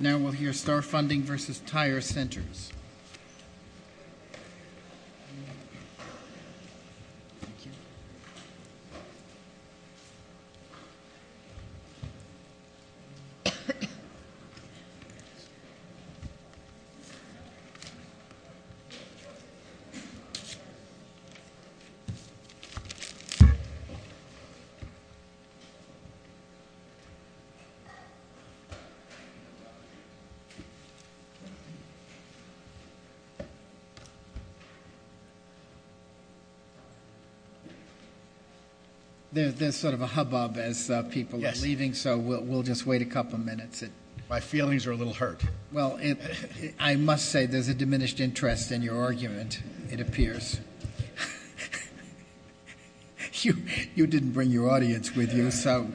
Now we'll hear Star Funding v. Tire Centers. There's sort of a hubbub as people are leaving, so we'll just wait a couple minutes. My feelings are a little hurt. Well, I must say there's a diminished interest in your argument, it appears. You didn't bring your audience with you, so...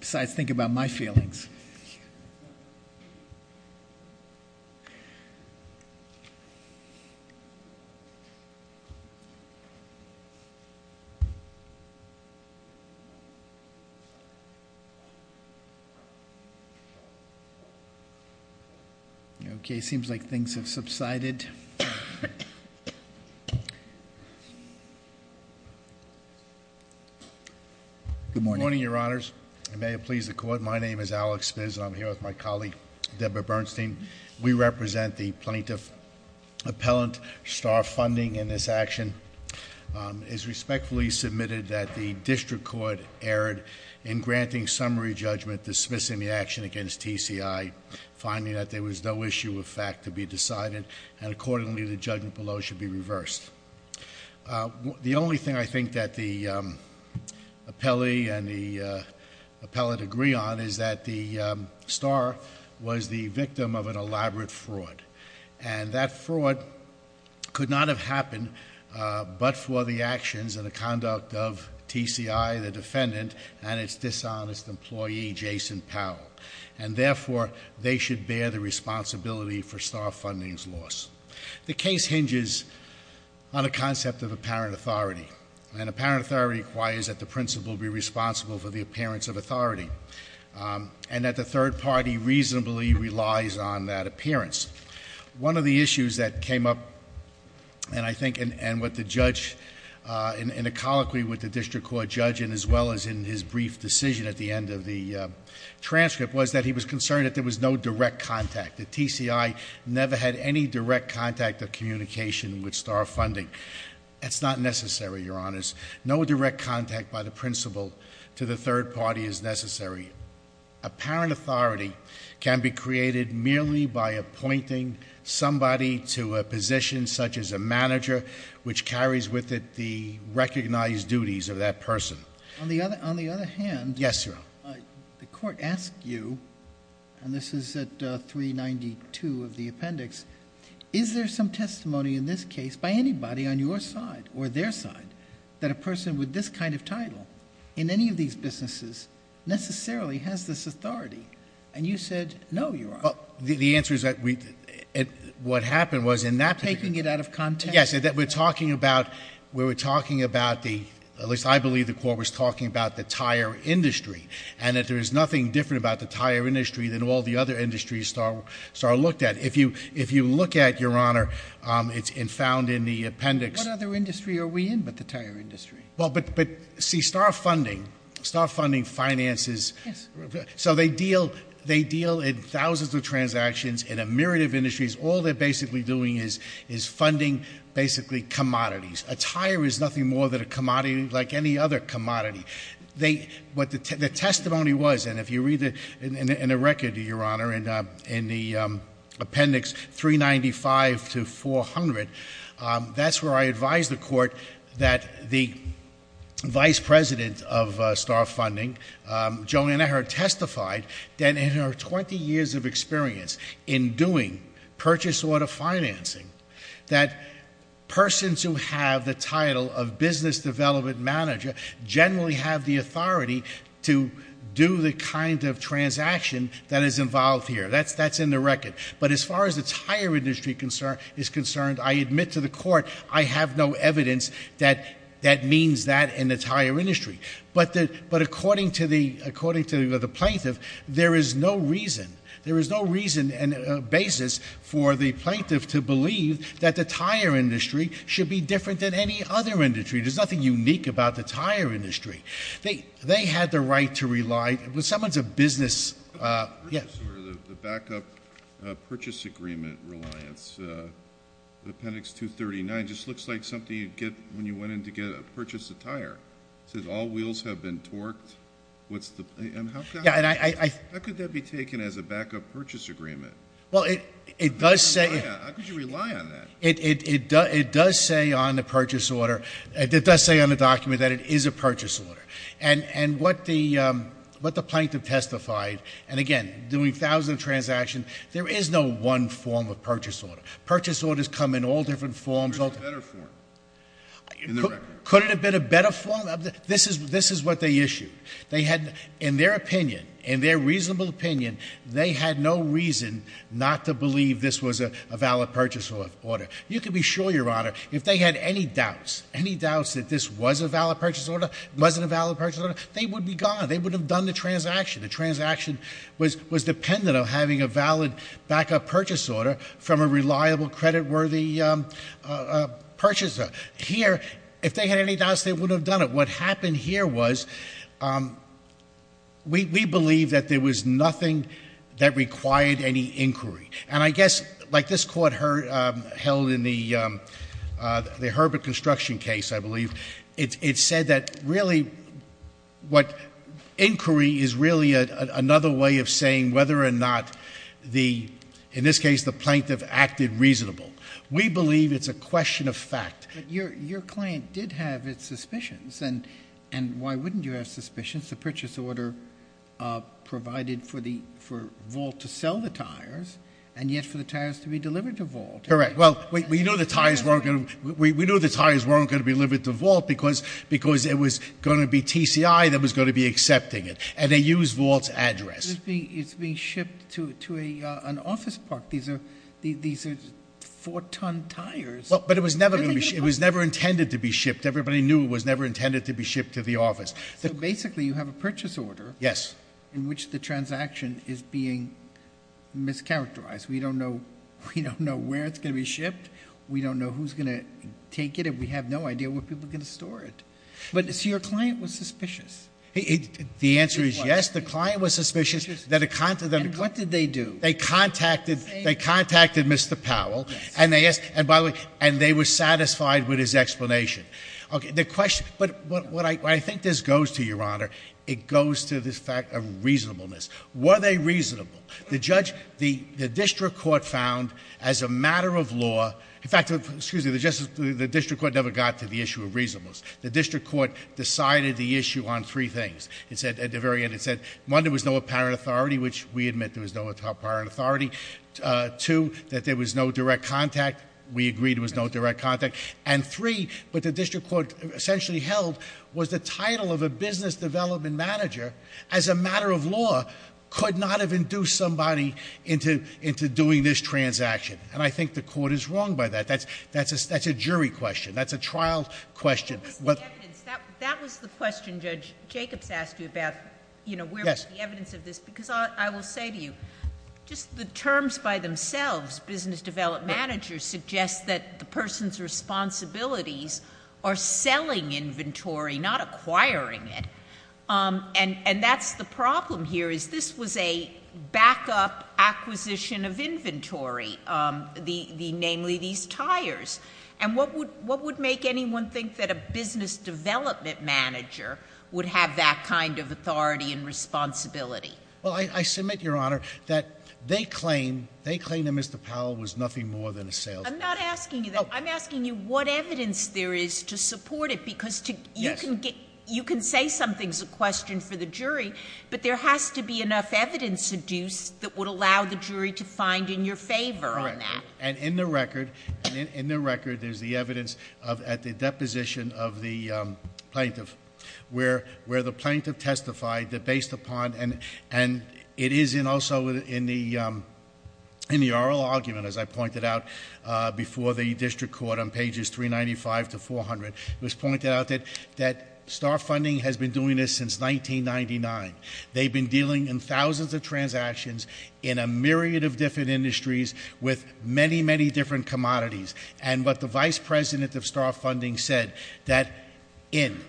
Besides, think about my feelings. Okay, seems like things have subsided. Good morning, Your Honors. May it please the Court, my name is Alex Spitz and I'm here with my colleague Deborah Bernstein. We represent the Plaintiff Appellant. Star Funding in this action is respectfully submitted that the District Court erred in granting summary judgment dismissing the action against TCI, finding that there was no issue of fact to be decided, and accordingly the judgment below should be reversed. The only thing I think that the appellee and the appellate agree on is that the star was the victim of an elaborate fraud. And that fraud could not have happened but for the actions and the conduct of TCI, the defendant, and its dishonest employee, Jason Powell. And therefore, they should bear the responsibility for Star Funding's loss. The case hinges on a concept of apparent authority. And apparent authority requires that the principal be responsible for the appearance of authority. And that the third party reasonably relies on that appearance. One of the issues that came up, and I think, and what the judge, in a colloquy with the District Court judge, and as well as in his brief decision at the end of the transcript, was that he was concerned that there was no direct contact. That TCI never had any direct contact of communication with Star Funding. That's not necessary, Your Honors. No direct contact by the principal to the third party is necessary. Apparent authority can be created merely by appointing somebody to a position such as a manager, which carries with it the recognized duties of that person. On the other hand- Yes, Your Honor. The court asked you, and this is at 392 of the appendix, is there some testimony in this case by anybody on your side, or their side, that a person with this kind of title in any of these businesses necessarily has this authority? And you said, no, Your Honor. The answer is that what happened was in that- Taking it out of context. Yes. We're talking about, we were talking about the, at least I believe the court was talking about the tire industry. And that there is nothing different about the tire industry than all the other industries Star looked at. If you look at, Your Honor, it's found in the appendix- What other industry are we in but the tire industry? Well, but see, Star Funding, Star Funding finances- Yes. So they deal in thousands of transactions in a myriad of industries. All they're basically doing is funding basically commodities. A tire is nothing more than a commodity like any other commodity. The testimony was, and if you read in the record, Your Honor, in the appendix 395 to 400, that's where I advised the court that the vice president of Star Funding, Joanna Herr, testified that in her 20 years of experience in doing purchase order financing, that persons who have the title of business development manager generally have the authority to do the kind of transaction that is involved here. That's in the record. But as far as the tire industry is concerned, I admit to the court, I have no evidence that that means that in the tire industry. But according to the plaintiff, there is no reason, basis for the plaintiff to believe that the tire industry should be different than any other industry. There's nothing unique about the tire industry. They had the right to rely- Someone's a business- The backup purchase agreement reliance, appendix 239, just looks like something you'd get when you went in to purchase a tire. It says all wheels have been torqued. How could that be taken as a backup purchase agreement? Well, it does say- How could you rely on that? It does say on the purchase order. It does say on the document that it is a purchase order. And what the plaintiff testified, and again, doing thousands of transactions, there is no one form of purchase order. Purchase orders come in all different forms. There's a better form in the record. Could it have been a better form? This is what they issued. They had, in their opinion, in their reasonable opinion, they had no reason not to believe this was a valid purchase order. You can be sure, Your Honor, if they had any doubts, any doubts that this was a valid purchase order, wasn't a valid purchase order, they would be gone. They would have done the transaction. The transaction was dependent on having a valid backup purchase order from a reliable, creditworthy purchaser. Here, if they had any doubts, they wouldn't have done it. What happened here was we believe that there was nothing that required any inquiry. And I guess, like this court held in the Herbert construction case, I believe, it said that really what inquiry is really another way of saying whether or not, in this case, the plaintiff acted reasonable. We believe it's a question of fact. But your client did have its suspicions, and why wouldn't you have suspicions? The purchase order provided for Volt to sell the tires, and yet for the tires to be delivered to Volt. Correct. Well, we knew the tires weren't going to be delivered to Volt because it was going to be TCI that was going to be accepting it, and they used Volt's address. It's being shipped to an office park. These are four-ton tires. But it was never intended to be shipped. Everybody knew it was never intended to be shipped to the office. So basically you have a purchase order in which the transaction is being mischaracterized. We don't know where it's going to be shipped. We don't know who's going to take it, and we have no idea where people are going to store it. So your client was suspicious. The answer is yes, the client was suspicious. And what did they do? They contacted Mr. Powell, and they were satisfied with his explanation. But where I think this goes to, Your Honor, it goes to the fact of reasonableness. Were they reasonable? The district court found as a matter of law, in fact, excuse me, the district court never got to the issue of reasonableness. The district court decided the issue on three things at the very end. It said, one, there was no apparent authority, which we admit there was no apparent authority. Two, that there was no direct contact. We agreed there was no direct contact. And three, what the district court essentially held was the title of a business development manager, as a matter of law, could not have induced somebody into doing this transaction. And I think the court is wrong by that. That's a jury question. That's a trial question. That was the question Judge Jacobs asked you about where was the evidence of this. Because I will say to you, just the terms by themselves, business development managers suggest that the person's responsibilities are selling inventory, not acquiring it. And that's the problem here, is this was a backup acquisition of inventory, namely these tires. And what would make anyone think that a business development manager would have that kind of authority and responsibility? Well, I submit, Your Honor, that they claim that Mr. Powell was nothing more than a salesman. I'm not asking you that. I'm asking you what evidence there is to support it, because you can say something's a question for the jury, but there has to be enough evidence to do that would allow the jury to find in your favor on that. And in the record, there's the evidence at the deposition of the plaintiff, where the plaintiff testified that based upon, and it is also in the oral argument, as I pointed out before the district court on pages 395 to 400. It was pointed out that Star Funding has been doing this since 1999. They've been dealing in thousands of transactions in a myriad of different industries with many, many different commodities. And what the vice president of Star Funding said, that in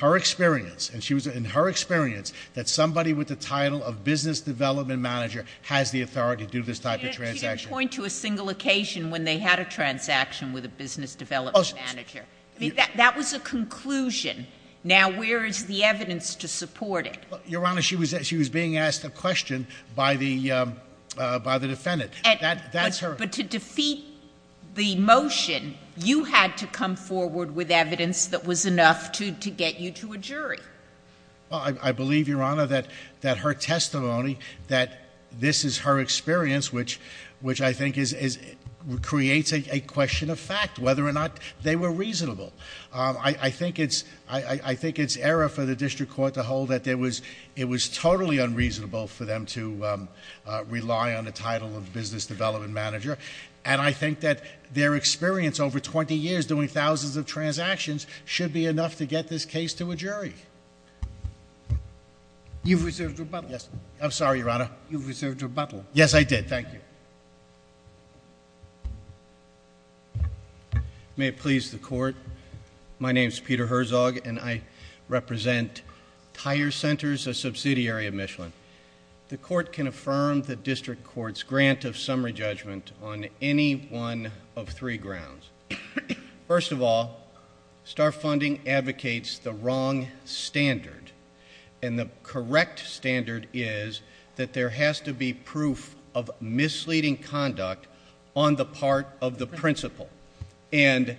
her experience, that somebody with the title of business development manager has the authority to do this type of transaction. You didn't point to a single occasion when they had a transaction with a business development manager. That was a conclusion. Now, where is the evidence to support it? Your Honor, she was being asked a question by the defendant. But to defeat the motion, you had to come forward with evidence that was enough to get you to a jury. Well, I believe, Your Honor, that her testimony, that this is her experience, which I think creates a question of fact, whether or not they were reasonable. I think it's error for the district court to hold that it was totally unreasonable for them to rely on the title of business development manager. And I think that their experience over 20 years doing thousands of transactions should be enough to get this case to a jury. You've reserved rebuttal. Yes, I'm sorry, Your Honor. You've reserved rebuttal. Yes, I did. Thank you. May it please the court. My name's Peter Herzog, and I represent Tire Centers, a subsidiary of Michelin. The court can affirm the district court's grant of summary judgment on any one of three grounds. First of all, Star Funding advocates the wrong standard. And the correct standard is that there has to be proof of misleading conduct on the part of the principal. And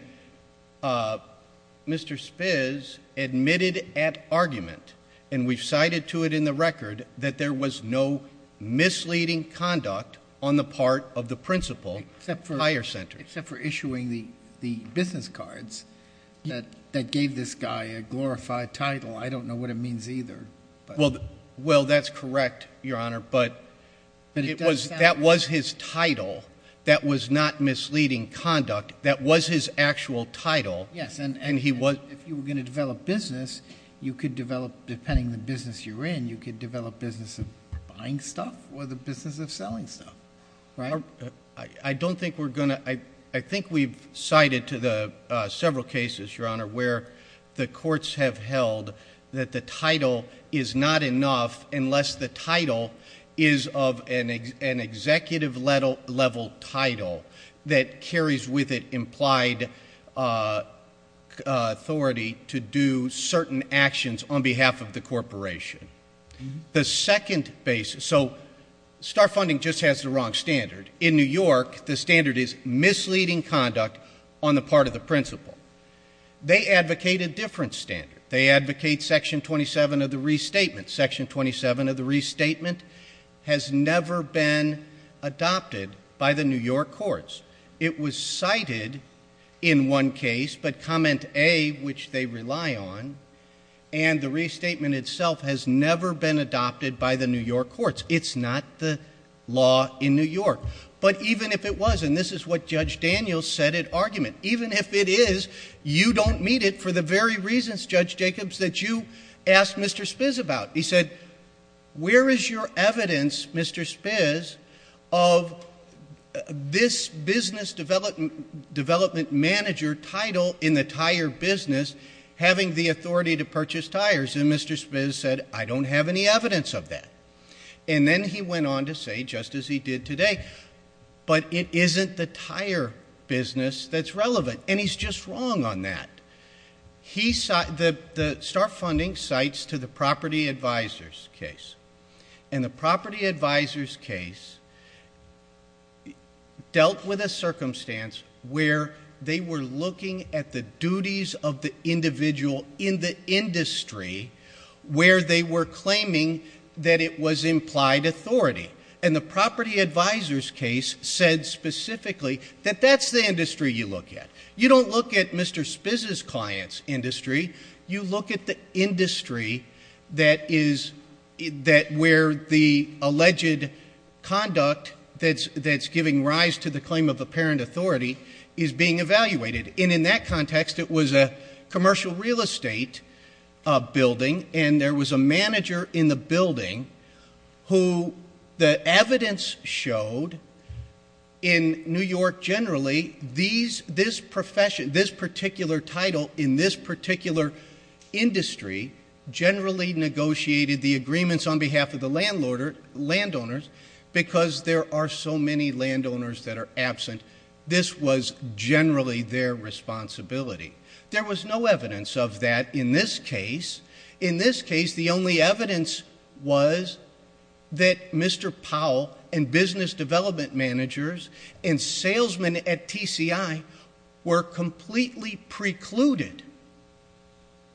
Mr. Spiz admitted at argument, and we've cited to it in the record, that there was no misleading conduct on the part of the principal at Tire Centers. Except for issuing the business cards that gave this guy a glorified title. I don't know what it means either. Well, that's correct, Your Honor. But that was his title. That was not misleading conduct. That was his actual title. Yes, and if you were going to develop business, you could develop, depending on the business you're in, you could develop business of buying stuff or the business of selling stuff. Right? I don't think we're going to, I think we've cited to the several cases, Your Honor, where the courts have held that the title is not enough unless the title is of an executive level title that carries with it implied authority to do certain actions on behalf of the corporation. The second basis, so Star Funding just has the wrong standard. In New York, the standard is misleading conduct on the part of the principal. They advocate a different standard. They advocate Section 27 of the Restatement. Section 27 of the Restatement has never been adopted by the New York courts. It was cited in one case, but Comment A, which they rely on, and the Restatement itself has never been adopted by the New York courts. It's not the law in New York. But even if it was, and this is what Judge Daniels said at argument, even if it is, you don't meet it for the very reasons, Judge Jacobs, that you asked Mr. Spiz about. He said, where is your evidence, Mr. Spiz, of this business development manager title in the entire business having the authority to purchase tires? And Mr. Spiz said, I don't have any evidence of that. And then he went on to say, just as he did today, but it isn't the tire business that's relevant. And he's just wrong on that. The Star Funding cites to the Property Advisors case. And the Property Advisors case dealt with a circumstance where they were looking at the duties of the individual in the industry where they were claiming that it was implied authority. And the Property Advisors case said specifically that that's the industry you look at. You don't look at Mr. Spiz's client's industry. You look at the industry where the alleged conduct that's giving rise to the claim of apparent authority is being evaluated. And in that context, it was a commercial real estate building, and there was a manager in the building who the evidence showed in New York generally, this particular title in this particular industry generally negotiated the agreements on behalf of the landowners because there are so many landowners that are absent. This was generally their responsibility. There was no evidence of that in this case. In this case, the only evidence was that Mr. Powell and business development managers and salesmen at TCI were completely precluded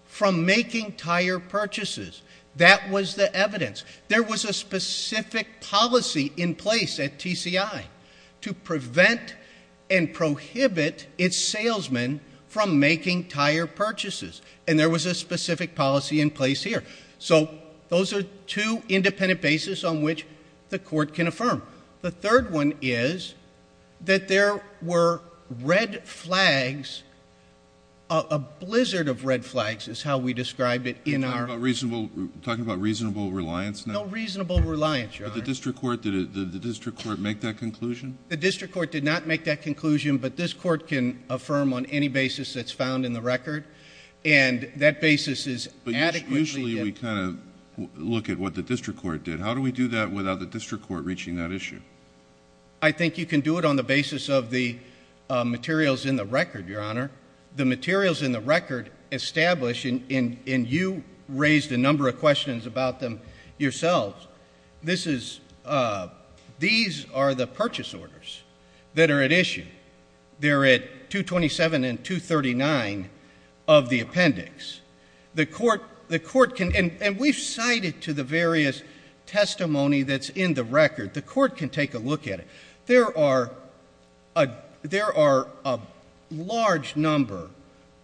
from making tire purchases. That was the evidence. There was a specific policy in place at TCI to prevent and prohibit its salesmen from making tire purchases, and there was a specific policy in place here. So those are two independent bases on which the court can affirm. The third one is that there were red flags, a blizzard of red flags is how we describe it. You're talking about reasonable reliance now? No reasonable reliance, Your Honor. But the district court, did the district court make that conclusion? The district court did not make that conclusion, but this court can affirm on any basis that's found in the record, and that basis is adequately. But usually we kind of look at what the district court did. How do we do that without the district court reaching that issue? I think you can do it on the basis of the materials in the record, Your Honor. The materials in the record establish, and you raised a number of questions about them yourselves, these are the purchase orders that are at issue. They're at 227 and 239 of the appendix. The court can, and we've cited to the various testimony that's in the record, the court can take a look at it. There are a large number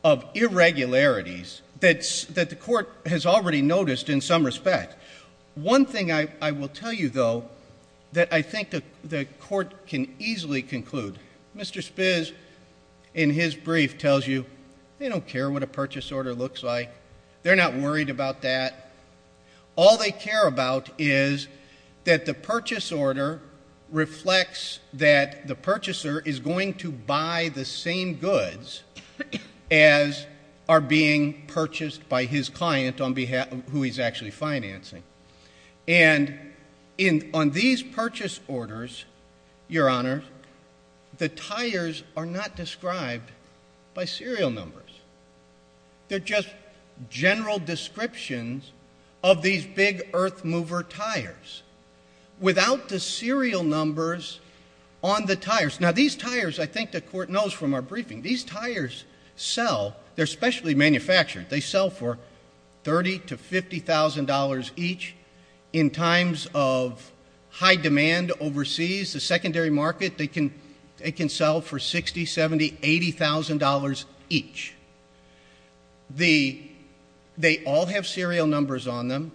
of irregularities that the court has already noticed in some respect. One thing I will tell you, though, that I think the court can easily conclude. Mr. Spitz, in his brief, tells you they don't care what a purchase order looks like. They're not worried about that. All they care about is that the purchase order reflects that the purchaser is going to buy the same goods as are being purchased by his client on behalf of who he's actually financing. And on these purchase orders, Your Honor, the tires are not described by serial numbers. They're just general descriptions of these big earth mover tires. Without the serial numbers on the tires, now these tires, I think the court knows from our briefing, these tires sell, they're specially manufactured. They sell for $30,000 to $50,000 each. In times of high demand overseas, the secondary market, they can sell for $60,000, $70,000, $80,000 each. They all have serial numbers on them.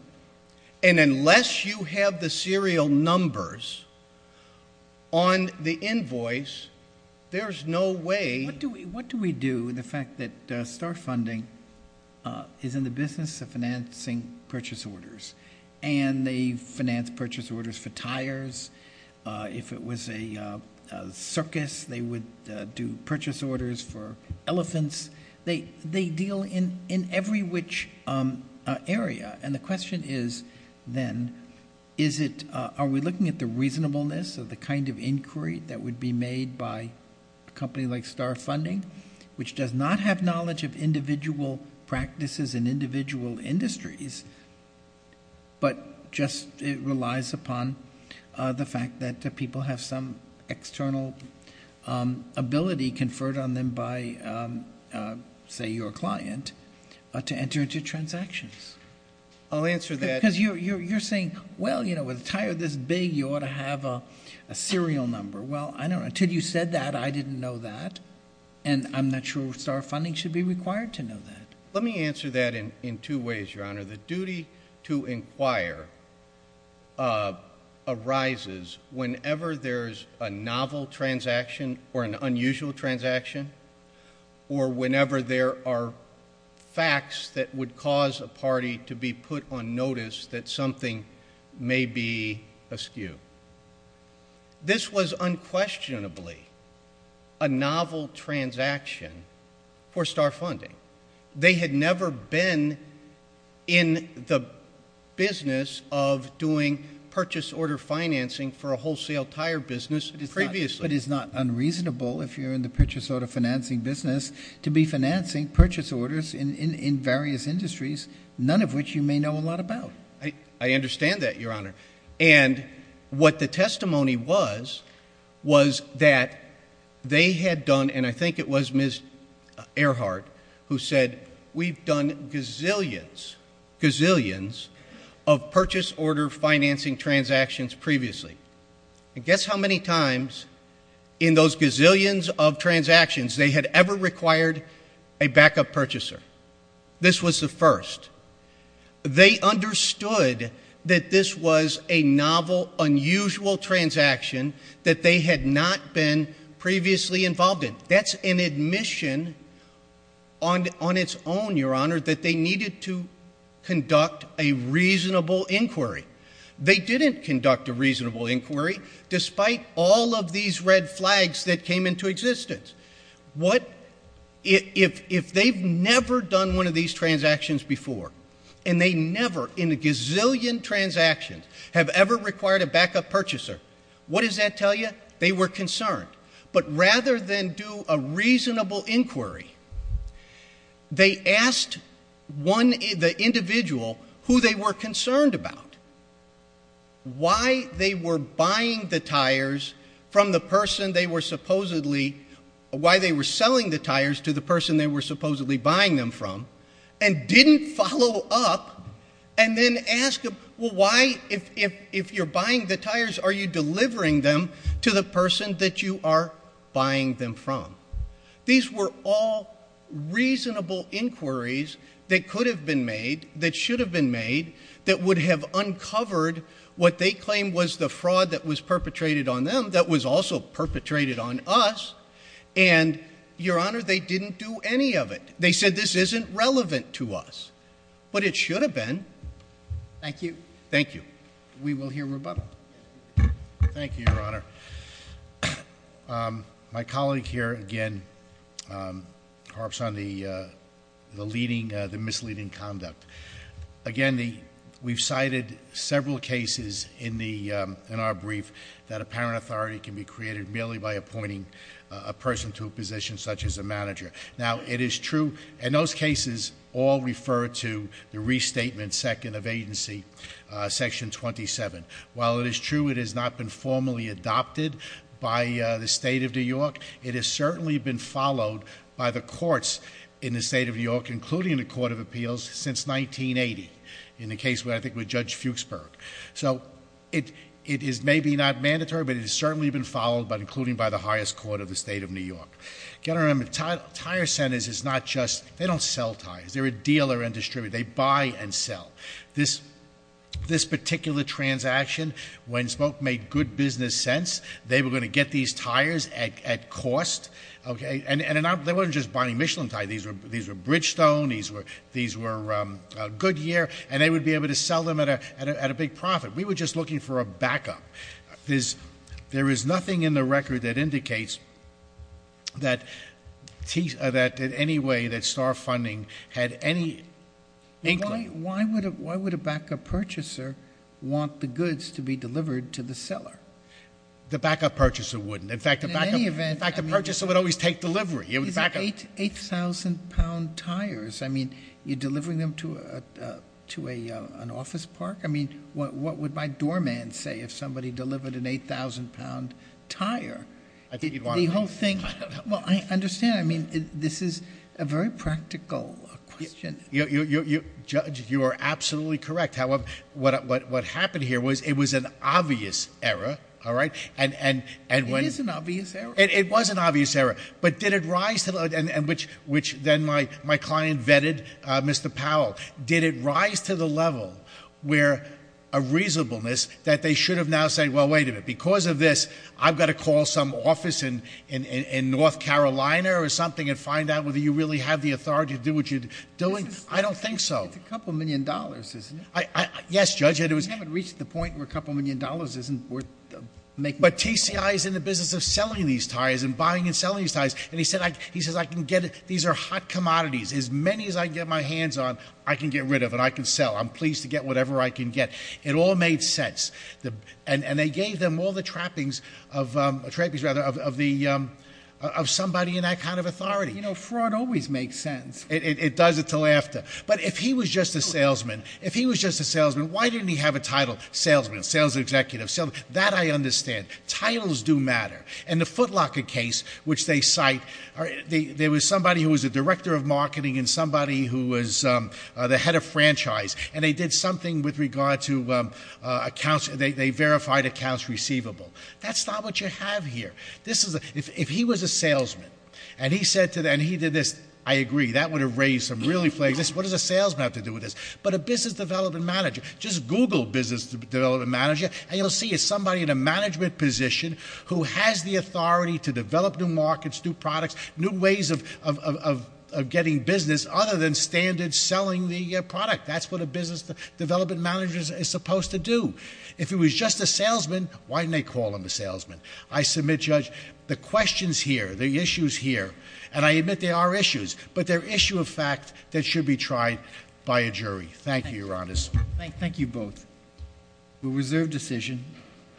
And unless you have the serial numbers on the invoice, there's no way. What do we do with the fact that Star Funding is in the business of financing purchase orders? And they finance purchase orders for tires. If it was a circus, they would do purchase orders for elephants. They deal in every which area. And the question is then, are we looking at the reasonableness of the kind of inquiry that would be made by a company like Star Funding, which does not have knowledge of individual practices and individual industries, but just relies upon the fact that people have some external ability conferred on them by, say, your client, to enter into transactions? I'll answer that. Because you're saying, well, you know, with a tire this big, you ought to have a serial number. Well, I don't know. Until you said that, I didn't know that. And I'm not sure Star Funding should be required to know that. Let me answer that in two ways, Your Honor. The duty to inquire arises whenever there's a novel transaction or an unusual transaction or whenever there are facts that would cause a party to be put on notice that something may be askew. This was unquestionably a novel transaction for Star Funding. They had never been in the business of doing purchase order financing for a wholesale tire business previously. But it's not unreasonable, if you're in the purchase order financing business, to be financing purchase orders in various industries, none of which you may know a lot about. I understand that, Your Honor. And what the testimony was was that they had done, and I think it was Ms. Earhart who said, we've done gazillions, gazillions of purchase order financing transactions previously. And guess how many times in those gazillions of transactions they had ever required a backup purchaser. This was the first. They understood that this was a novel, unusual transaction that they had not been previously involved in. That's an admission on its own, Your Honor, that they needed to conduct a reasonable inquiry. They didn't conduct a reasonable inquiry, despite all of these red flags that came into existence. If they've never done one of these transactions before, and they never, in a gazillion transactions, have ever required a backup purchaser, what does that tell you? They were concerned. But rather than do a reasonable inquiry, they asked the individual who they were concerned about, why they were buying the tires from the person they were supposedly, why they were selling the tires to the person they were supposedly buying them from, and didn't follow up and then ask, well, why, if you're buying the tires, are you delivering them to the person that you are buying them from? These were all reasonable inquiries that could have been made, that should have been made, that would have uncovered what they claimed was the fraud that was perpetrated on them, that was also perpetrated on us, and, Your Honor, they didn't do any of it. They said this isn't relevant to us, but it should have been. Thank you. Thank you. We will hear rebuttal. Thank you, Your Honor. My colleague here, again, harps on the misleading conduct. Again, we've cited several cases in our brief that apparent authority can be created merely by appointing a person to a position such as a manager. Now, it is true, and those cases all refer to the restatement second of agency, section 27. While it is true it has not been formally adopted by the state of New York, it has certainly been followed by the courts in the state of New York, including the Court of Appeals, since 1980, in the case, I think, with Judge Fuchsberg. So it is maybe not mandatory, but it has certainly been followed, including by the highest court of the state of New York. You've got to remember, tire centers is not just, they don't sell tires, they're a dealer and distributor. They buy and sell. This particular transaction, when Smoke made good business sense, they were going to get these tires at cost. And they weren't just buying Michelin tires, these were Bridgestone, these were Goodyear, and they would be able to sell them at a big profit. We were just looking for a backup. There is nothing in the record that indicates that in any way that star funding had any inkling. Why would a backup purchaser want the goods to be delivered to the seller? The backup purchaser wouldn't. In fact, the backup purchaser would always take delivery. It would be 8,000-pound tires. I mean, you're delivering them to an office park? I mean, what would my doorman say if somebody delivered an 8,000-pound tire? The whole thing. Well, I understand. I mean, this is a very practical question. Judge, you are absolutely correct. However, what happened here was it was an obvious error, all right? It is an obvious error. It was an obvious error. But did it rise to the level, which then my client vetted Mr. Powell, did it rise to the level where a reasonableness that they should have now said, well, wait a minute, because of this, I've got to call some office in North Carolina or something and find out whether you really have the authority to do what you're doing? I don't think so. It's a couple million dollars, isn't it? Yes, Judge. And it hasn't reached the point where a couple million dollars isn't worth making. But TCI is in the business of selling these tires and buying and selling these tires. And he said I can get it. These are hot commodities. As many as I can get my hands on, I can get rid of and I can sell. I'm pleased to get whatever I can get. It all made sense. And they gave them all the trappings of somebody in that kind of authority. Fraud always makes sense. It does it to laughter. But if he was just a salesman, if he was just a salesman, why didn't he have a title salesman, sales executive, salesman? That I understand. Titles do matter. In the Foot Locker case, which they cite, and they did something with regard to accounts. They verified accounts receivable. That's not what you have here. If he was a salesman and he did this, I agree, that would have raised some really flags. What does a salesman have to do with this? But a business development manager, just Google business development manager, and you'll see it's somebody in a management position who has the authority to develop new markets, new products, new ways of getting business other than standard selling the product. That's what a business development manager is supposed to do. If he was just a salesman, why didn't they call him a salesman? I submit, Judge, the questions here, the issues here, and I admit there are issues, but they're issues of fact that should be tried by a jury. Thank you, Your Honor. Thank you both. We'll reserve decision.